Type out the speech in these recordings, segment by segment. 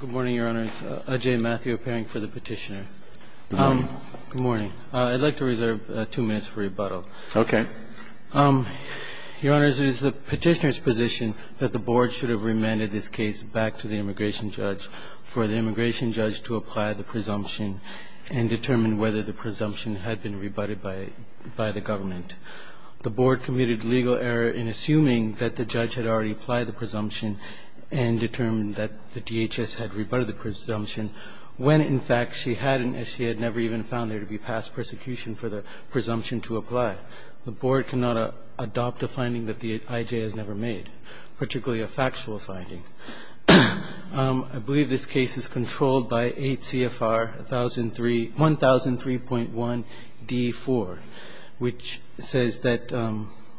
Good morning, Your Honor. It's Ajay Matthew appearing for the petitioner. Good morning. Good morning. I'd like to reserve two minutes for rebuttal. Okay. Your Honor, it is the petitioner's position that the board should have remanded this case back to the immigration judge for the immigration judge to apply the presumption and determine whether the presumption had been rebutted by the government. The board committed legal error in assuming that the judge had already applied the presumption and determined that the DHS had rebutted the presumption when, in fact, she had never even found there to be past persecution for the presumption to apply. The board cannot adopt a finding that the IJ has never made, particularly a factual finding. I believe this case is controlled by 8 CFR 1003.1D4, which says that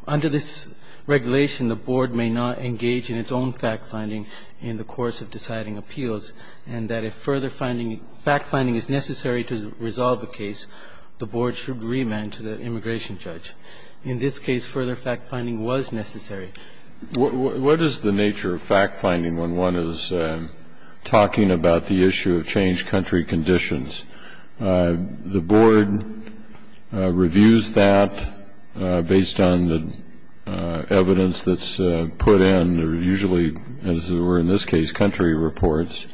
under this regulation, the board may not engage in its own fact-finding in the course of deciding appeals and that if further finding, fact-finding is necessary to resolve the case, the board should remand to the immigration judge. In this case, further fact-finding was necessary. What is the nature of fact-finding when one is talking about the issue of changed country conditions? The board reviews that based on the evidence that's put in, usually, as it were in this case, country reports.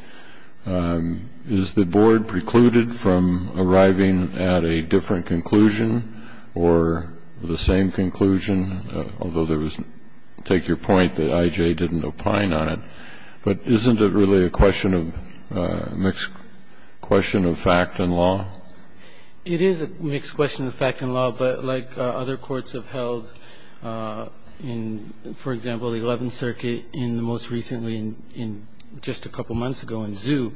Is the board precluded from arriving at a different conclusion or the same conclusion, although there was, take your point that IJ didn't opine on it, but isn't it really a question of mixed question of fact and law? It is a mixed question of fact and law, but like other courts have held in, for example, the 11th Circuit in the most recently, in just a couple months ago in Zhu,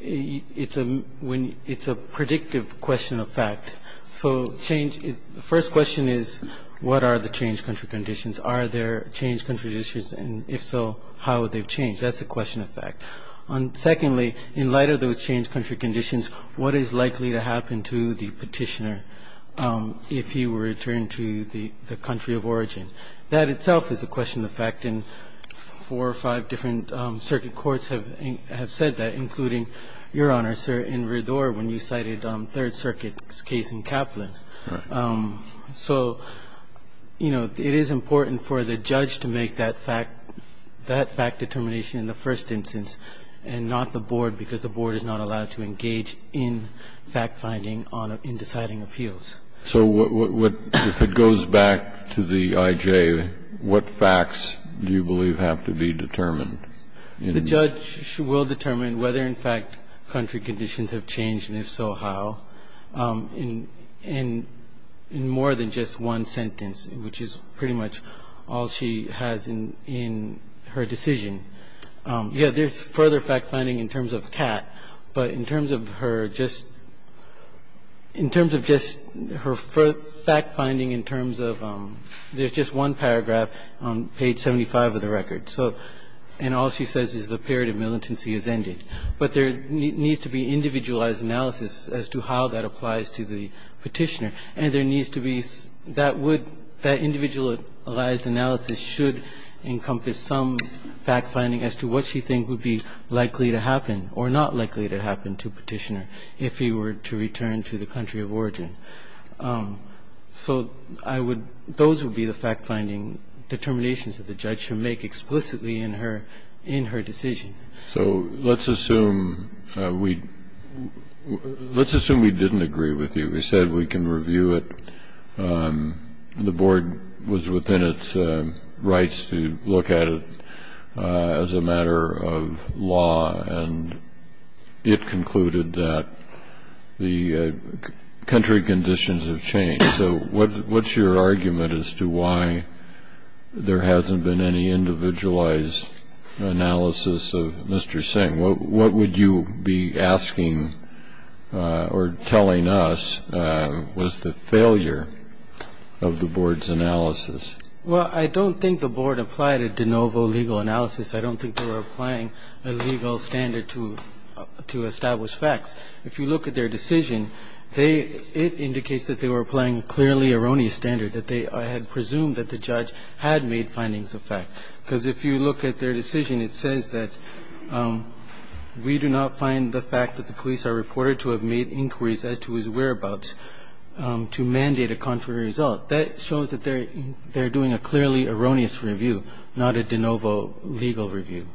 it's a predictive question of fact. So the first question is, what are the changed country conditions? Are there changed country conditions? And if so, how have they changed? That's a question of fact. Secondly, in light of those changed country conditions, what is likely to happen to the petitioner if he were returned to the country of origin? That itself is a question of fact, and four or five different circuit courts have said that, including, Your Honor, sir, in Redor when you cited Third Circuit's case in Kaplan. Right. So, you know, it is important for the judge to make that fact determination in the first instance and not the board, because the board is not allowed to engage in fact-finding in deciding appeals. So if it goes back to the IJ, what facts do you believe have to be determined? The judge will determine whether, in fact, country conditions have changed, and if so, how. In more than just one sentence, which is pretty much all she has in her decision. Yes, there's further fact-finding in terms of Kat, but in terms of her just ‑‑ in terms of just her fact-finding in terms of ‑‑ there's just one paragraph on page 75 of the record, and all she says is the period of militancy has ended. But there needs to be individualized analysis as to how that applies to the Petitioner. And there needs to be ‑‑ that would ‑‑ that individualized analysis should encompass some fact-finding as to what she thinks would be likely to happen or not likely to happen to Petitioner if he were to return to the country of origin. So I would ‑‑ those would be the fact-finding determinations that the judge should make explicitly in her decision. So let's assume we didn't agree with you. We said we can review it. The board was within its rights to look at it as a matter of law, and it concluded that the country conditions have changed. So what's your argument as to why there hasn't been any individualized analysis of Mr. Singh? What would you be asking or telling us was the failure of the board's analysis? Well, I don't think the board applied a de novo legal analysis. I don't think they were applying a legal standard to establish facts. If you look at their decision, they ‑‑ it indicates that they were applying clearly erroneous standard, that they had presumed that the judge had made findings of fact. Because if you look at their decision, it says that we do not find the fact that the police are reported to have made inquiries as to his whereabouts to mandate a contrary result. That shows that they're doing a clearly erroneous review, not a de novo legal review.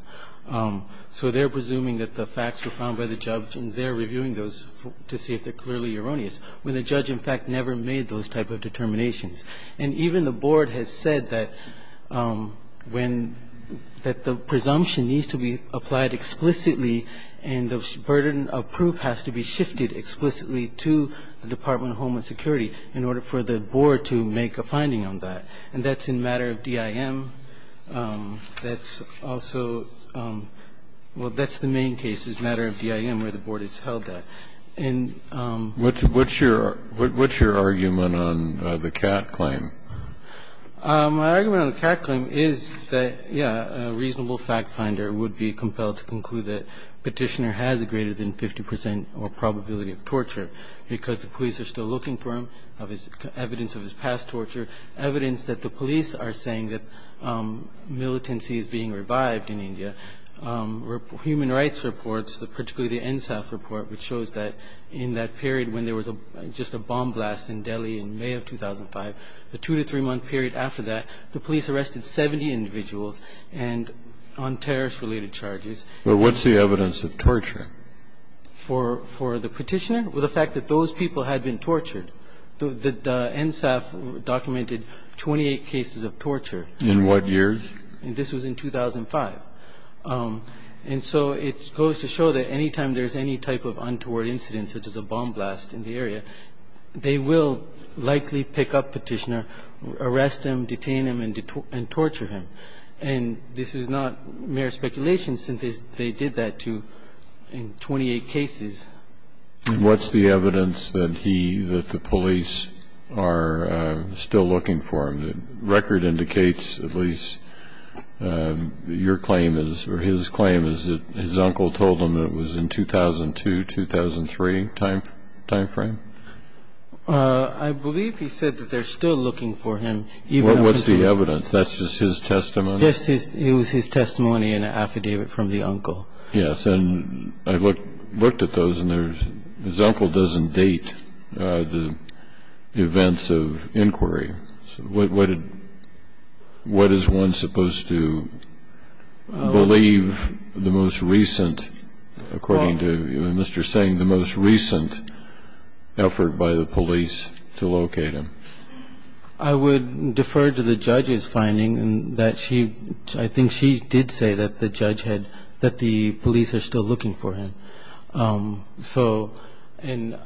So they're presuming that the facts were found by the judge, and they're reviewing those to see if they're clearly erroneous, when the judge, in fact, never made those type of determinations. And even the board has said that when ‑‑ that the presumption needs to be applied explicitly and the burden of proof has to be shifted explicitly to the Department of Homeland Security in order for the board to make a finding on that. And that's in matter of DIM. That's also ‑‑ well, that's the main case, is matter of DIM, where the board has held that. And ‑‑ Kennedy. What's your argument on the Catt claim? My argument on the Catt claim is that, yes, a reasonable fact finder would be compelled to conclude that Petitioner has a greater than 50 percent or probability of torture because the police are still looking for him, evidence of his past torture, evidence that the police are saying that militancy is being revived in India. Human rights reports, particularly the NSAF report, which shows that in that period when there was just a bomb blast in Delhi in May of 2005, the two to three month period after that, the police arrested 70 individuals and ‑‑ on terrorist related charges. But what's the evidence of torture? For the Petitioner? Well, the fact that those people had been tortured. The NSAF documented 28 cases of torture. In what years? This was in 2005. And so it goes to show that any time there's any type of untoward incident, such as a bomb blast in the area, they will likely pick up Petitioner, arrest him, detain him and torture him. And this is not mere speculation, since they did that to ‑‑ in 28 cases. What's the evidence that he, that the police are still looking for him? The record indicates at least your claim is, or his claim is that his uncle told him it was in 2002, 2003 time frame? I believe he said that they're still looking for him. What's the evidence? That's just his testimony? Just his ‑‑ it was his testimony in an affidavit from the uncle. Yes. And I looked at those, and his uncle doesn't date the events of inquiry. What is one supposed to believe the most recent, according to Mr. Seng, the most recent effort by the police to locate him? I would defer to the judge's finding that she, I think she did say that the judge said that the police are still looking for him. So, and,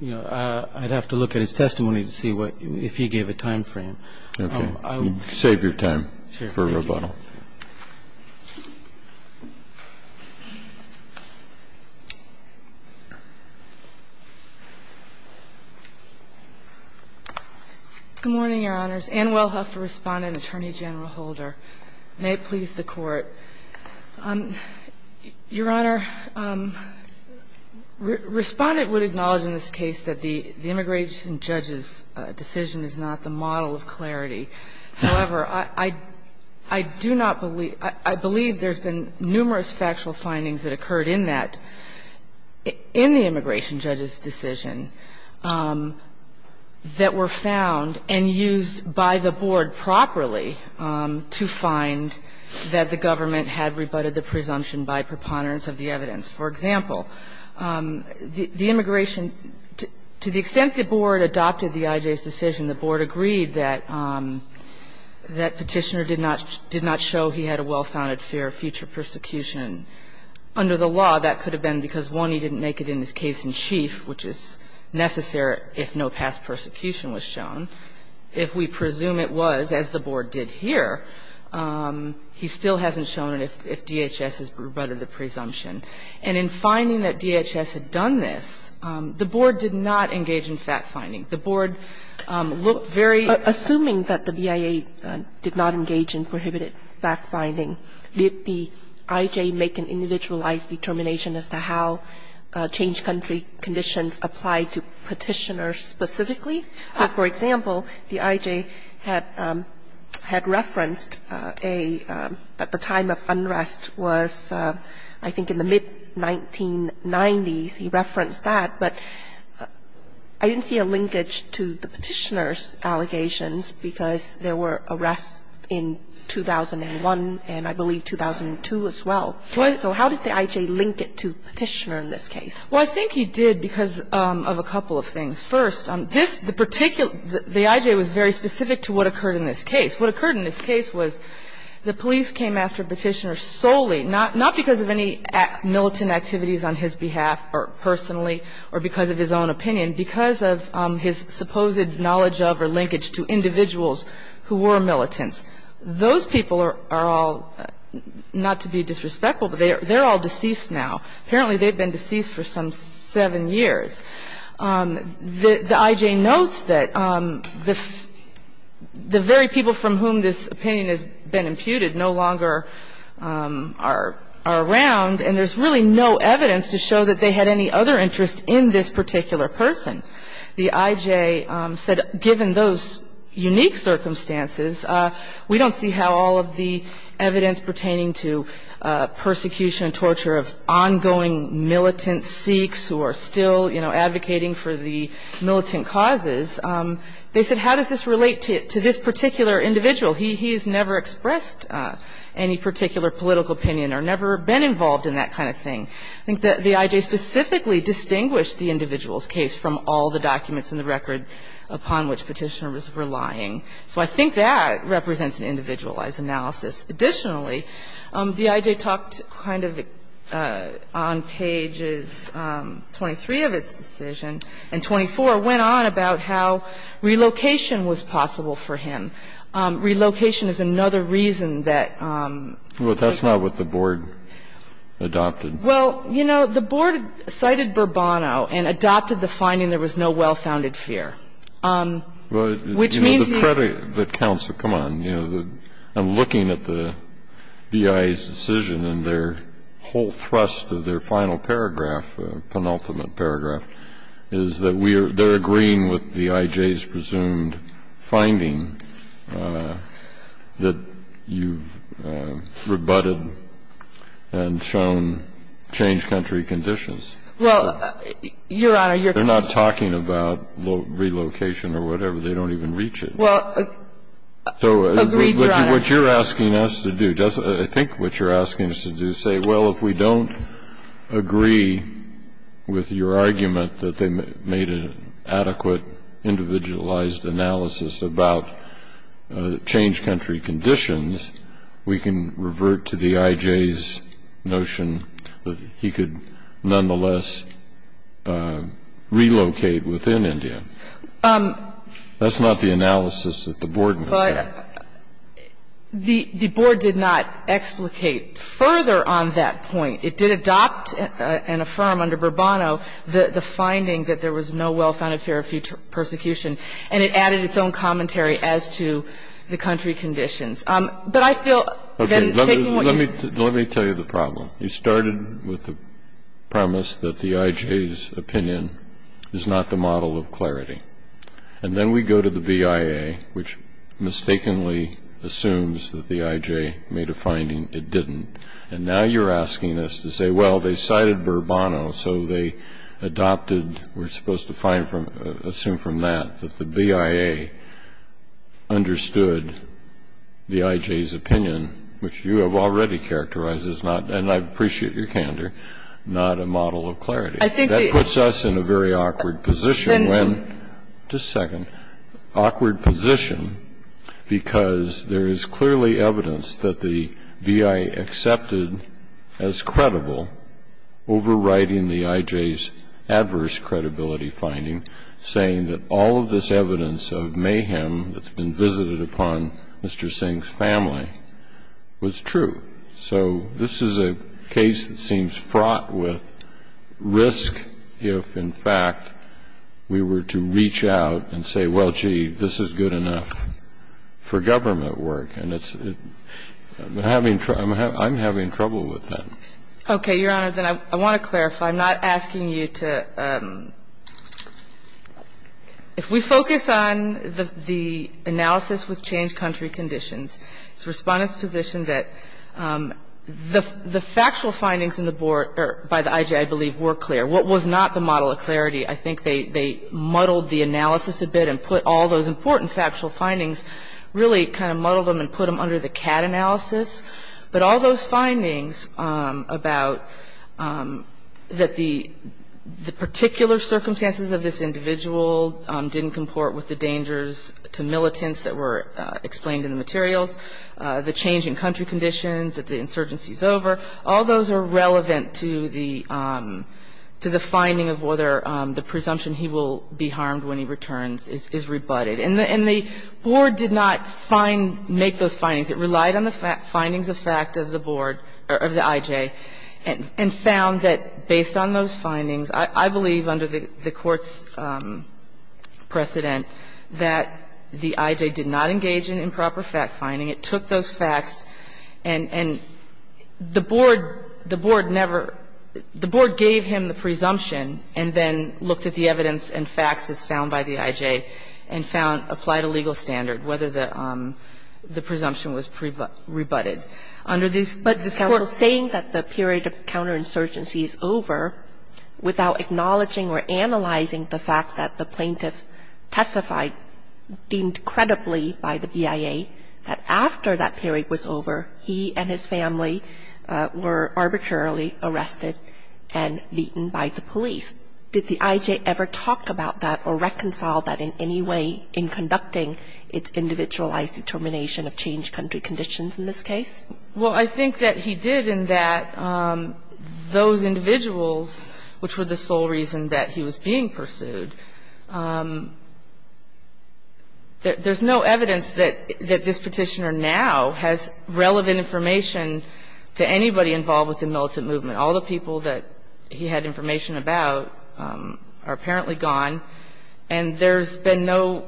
you know, I'd have to look at his testimony to see if he gave a time frame. Okay. Save your time for rebuttal. Sure. Thank you. Good morning, Your Honors. Ann Wellhoeffer, Respondent, Attorney General Holder. May it please the Court. Your Honor, Respondent would acknowledge in this case that the immigration judge's decision is not the model of clarity. However, I do not believe ‑‑ I believe there's been numerous factual findings that occurred in that, in the immigration judge's decision, that were found and used by the board properly to find that the government had rebutted the presumption by preponderance of the evidence. For example, the immigration ‑‑ to the extent the board adopted the IJ's decision, the board agreed that Petitioner did not show he had a well-founded fear of future persecution. Under the law, that could have been because, one, he didn't make it in his case in necessary if no past persecution was shown. If we presume it was, as the board did here, he still hasn't shown it if DHS has rebutted the presumption. And in finding that DHS had done this, the board did not engage in factfinding. The board looked very ‑‑ Assuming that the BIA did not engage in prohibited factfinding, did the IJ make an individualized determination as to how change country conditions apply to Petitioner specifically? So, for example, the IJ had referenced a ‑‑ at the time of unrest was, I think, in the mid‑1990s, he referenced that. But I didn't see a linkage to the Petitioner's allegations because there were arrests in 2001 and, I believe, 2002 as well. So how did the IJ link it to Petitioner in this case? Well, I think he did because of a couple of things. First, this particular ‑‑ the IJ was very specific to what occurred in this case. What occurred in this case was the police came after Petitioner solely, not because of any militant activities on his behalf or personally or because of his own opinion, because of his supposed knowledge of or linkage to individuals who were militants. Those people are all, not to be disrespectful, but they're all deceased now. Apparently, they've been deceased for some seven years. The IJ notes that the very people from whom this opinion has been imputed no longer are around, and there's really no evidence to show that they had any other interest in this particular person. The IJ said, given those unique circumstances, we don't see how all of the evidence pertaining to persecution, torture of ongoing militant Sikhs who are still, you know, advocating for the militant causes. They said, how does this relate to this particular individual? He has never expressed any particular political opinion or never been involved in that kind of thing. I think that the IJ specifically distinguished the individual's case from all the documents in the record upon which Petitioner was relying. So I think that represents an individualized analysis. Additionally, the IJ talked kind of on pages 23 of its decision, and 24 went on about how relocation was possible for him. Relocation is another reason that he's not. Well, that's not what the board adopted. Well, you know, the board cited Bourbono and adopted the finding there was no well-founded fear, which means he was not. But, counsel, come on. I'm looking at the BI's decision and their whole thrust of their final paragraph, penultimate paragraph, is that they're agreeing with the IJ's presumed finding that you've rebutted and shown change country conditions. Well, Your Honor, Your Honor. They're not talking about relocation or whatever. They don't even reach it. Well, agreed, Your Honor. What you're asking us to do, I think what you're asking us to do is say, well, if we don't agree with your argument that they made an adequate individualized analysis about change country conditions, we can revert to the IJ's notion that he could nonetheless relocate within India. That's not the analysis that the board made. But the board did not explicate further on that point. It did adopt and affirm under Bourbono the finding that there was no well-founded fear of future persecution. And it added its own commentary as to the country conditions. But I feel then taking what you said. Okay. Let me tell you the problem. You started with the premise that the IJ's opinion is not the model of clarity. And then we go to the BIA, which mistakenly assumes that the IJ made a finding it didn't. And now you're asking us to say, well, they cited Bourbono, so they adopted, we're supposed to find from, assume from that, that the BIA understood the IJ's opinion, which you have already characterized as not, and I appreciate your candor, not a model of clarity. That puts us in a very awkward position when. Just a second. Awkward position because there is clearly evidence that the BIA accepted as credible overriding the IJ's adverse credibility finding, saying that all of this evidence of mayhem that's been visited upon Mr. Singh's family was true. So this is a case that seems fraught with risk if, in fact, we were to reach out and say, well, gee, this is good enough for government work. And I'm having trouble with that. Okay. Your Honor, then I want to clarify. I'm not asking you to – if we focus on the analysis with changed country conditions, it's the Respondent's position that the factual findings in the board, or by the IJ, I believe, were clear. What was not the model of clarity, I think they muddled the analysis a bit and put all those important factual findings, really kind of muddled them and put them under the CAD analysis. But all those findings about that the particular circumstances of this individual didn't comport with the dangers to militants that were explained in the materials, the change in country conditions, that the insurgency is over, all those are relevant to the finding of whether the presumption he will be harmed when he returns is rebutted. And the board did not find – make those findings. It relied on the findings of fact of the board, of the IJ, and found that based on those findings, I believe under the Court's precedent that the IJ did not engage in improper fact finding. It took those facts and the board never – the board gave him the presumption and then looked at the evidence and facts as found by the IJ and found – applied a legal standard whether the presumption was rebutted. Under this Court's – Kagan, saying that the period of counterinsurgency is over without acknowledging or analyzing the fact that the plaintiff testified, deemed credibly by the BIA, that fact finding. Now, in this case, did the IJ ever talk about that or reconcile that in any way in conducting its individualized determination of change country conditions in this case? Well, I think that he did and that those individuals, which were the sole reason that he was being pursued – there's no evidence that this Petitioner now has relevant information to anybody involved with the militant movement. All the people that he had information about are apparently gone, and there's been no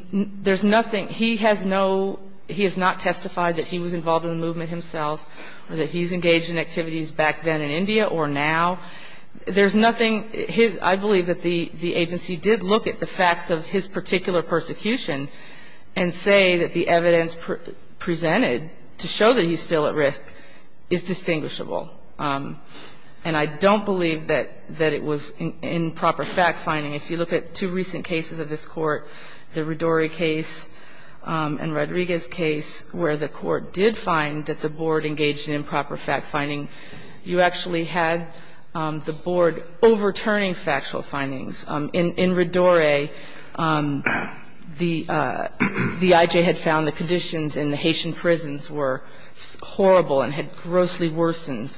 – there's nothing – he has no – he has not testified that he was involved in the movement himself or that he's engaged in activities back then in India or now. There's nothing – his – I believe that the agency did look at the facts of his particular persecution and say that the evidence presented to show that he's still at risk is distinguishable. And I don't believe that it was improper fact finding. If you look at two recent cases of this Court, the Rodori case and Rodriguez case, where the Court did find that the board engaged in improper fact finding, you actually had the board overturning factual findings. In Rodori, the I.J. had found the conditions in the Haitian prisons were horrible and had grossly worsened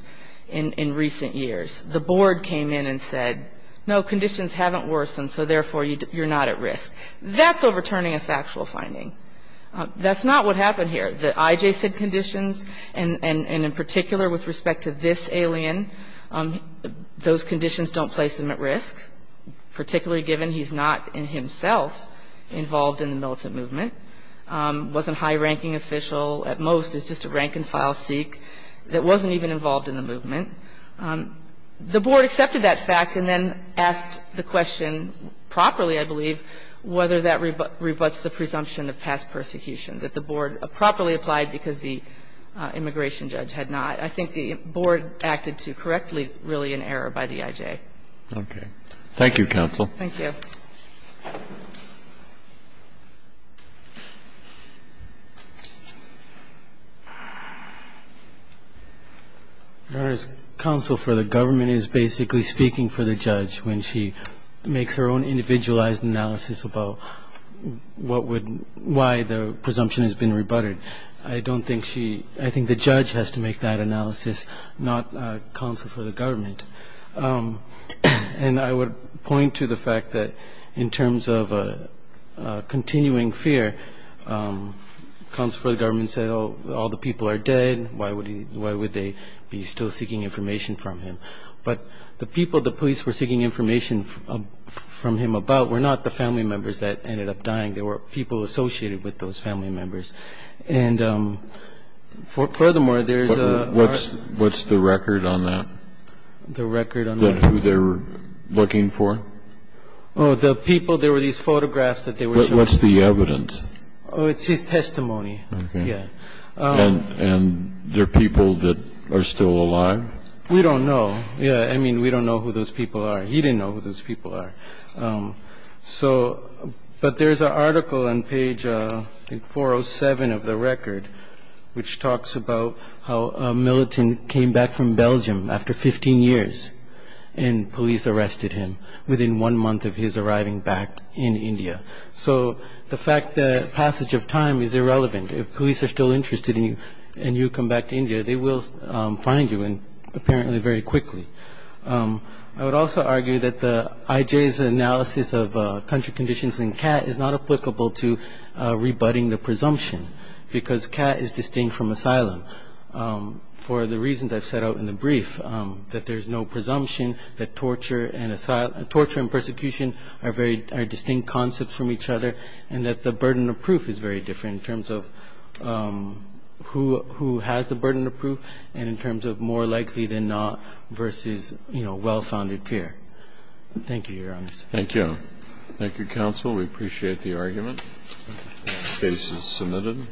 in recent years. The board came in and said, no, conditions haven't worsened, so therefore, you're not at risk. That's overturning a factual finding. That's not what happened here. The I.J. said conditions, and in particular with respect to this alien, those conditions don't place him at risk, particularly given he's not in himself involved in the militant movement, wasn't high-ranking official. At most, it's just a rank-and-file Sikh that wasn't even involved in the movement. The board accepted that fact and then asked the question properly, I believe, whether that rebuts the presumption of past persecution, that the board properly applied because the immigration judge had not. I think the board acted to correctly, really, in error by the I.J. Roberts. Thank you, counsel. Thank you. Your Honor, counsel for the government is basically speaking for the judge when she made her own individualized analysis about why the presumption has been rebutted. I don't think she – I think the judge has to make that analysis, not counsel for the government. And I would point to the fact that in terms of continuing fear, counsel for the government said, oh, all the people are dead, why would they be still seeking information from him? But the people the police were seeking information from him about were not the family members that ended up dying. They were people associated with those family members. And furthermore, there's a – What's the record on that? The record on that? Who they were looking for? Oh, the people, there were these photographs that they were showing. What's the evidence? Oh, it's his testimony. Okay. Yeah. And they're people that are still alive? We don't know. Yeah, I mean, we don't know who those people are. He didn't know who those people are. So – but there's an article on page, I think, 407 of the record, which talks about how a militant came back from Belgium after 15 years, and police arrested him within one month of his arriving back in India. So the fact that passage of time is irrelevant. If police are still interested in you and you come back to India, they will find you, and apparently very quickly. I would also argue that the IJ's analysis of country conditions in CAT is not applicable to rebutting the presumption, because CAT is distinct from asylum. For the reasons I've set out in the brief, that there's no presumption, that torture and persecution are distinct concepts from each other, and that the burden of proof is very different in terms of who has the burden of proof and in terms of more likely than not versus, you know, well-founded fear. Thank you, Your Honor. Thank you. Thank you, counsel. We appreciate the argument. Case is submitted.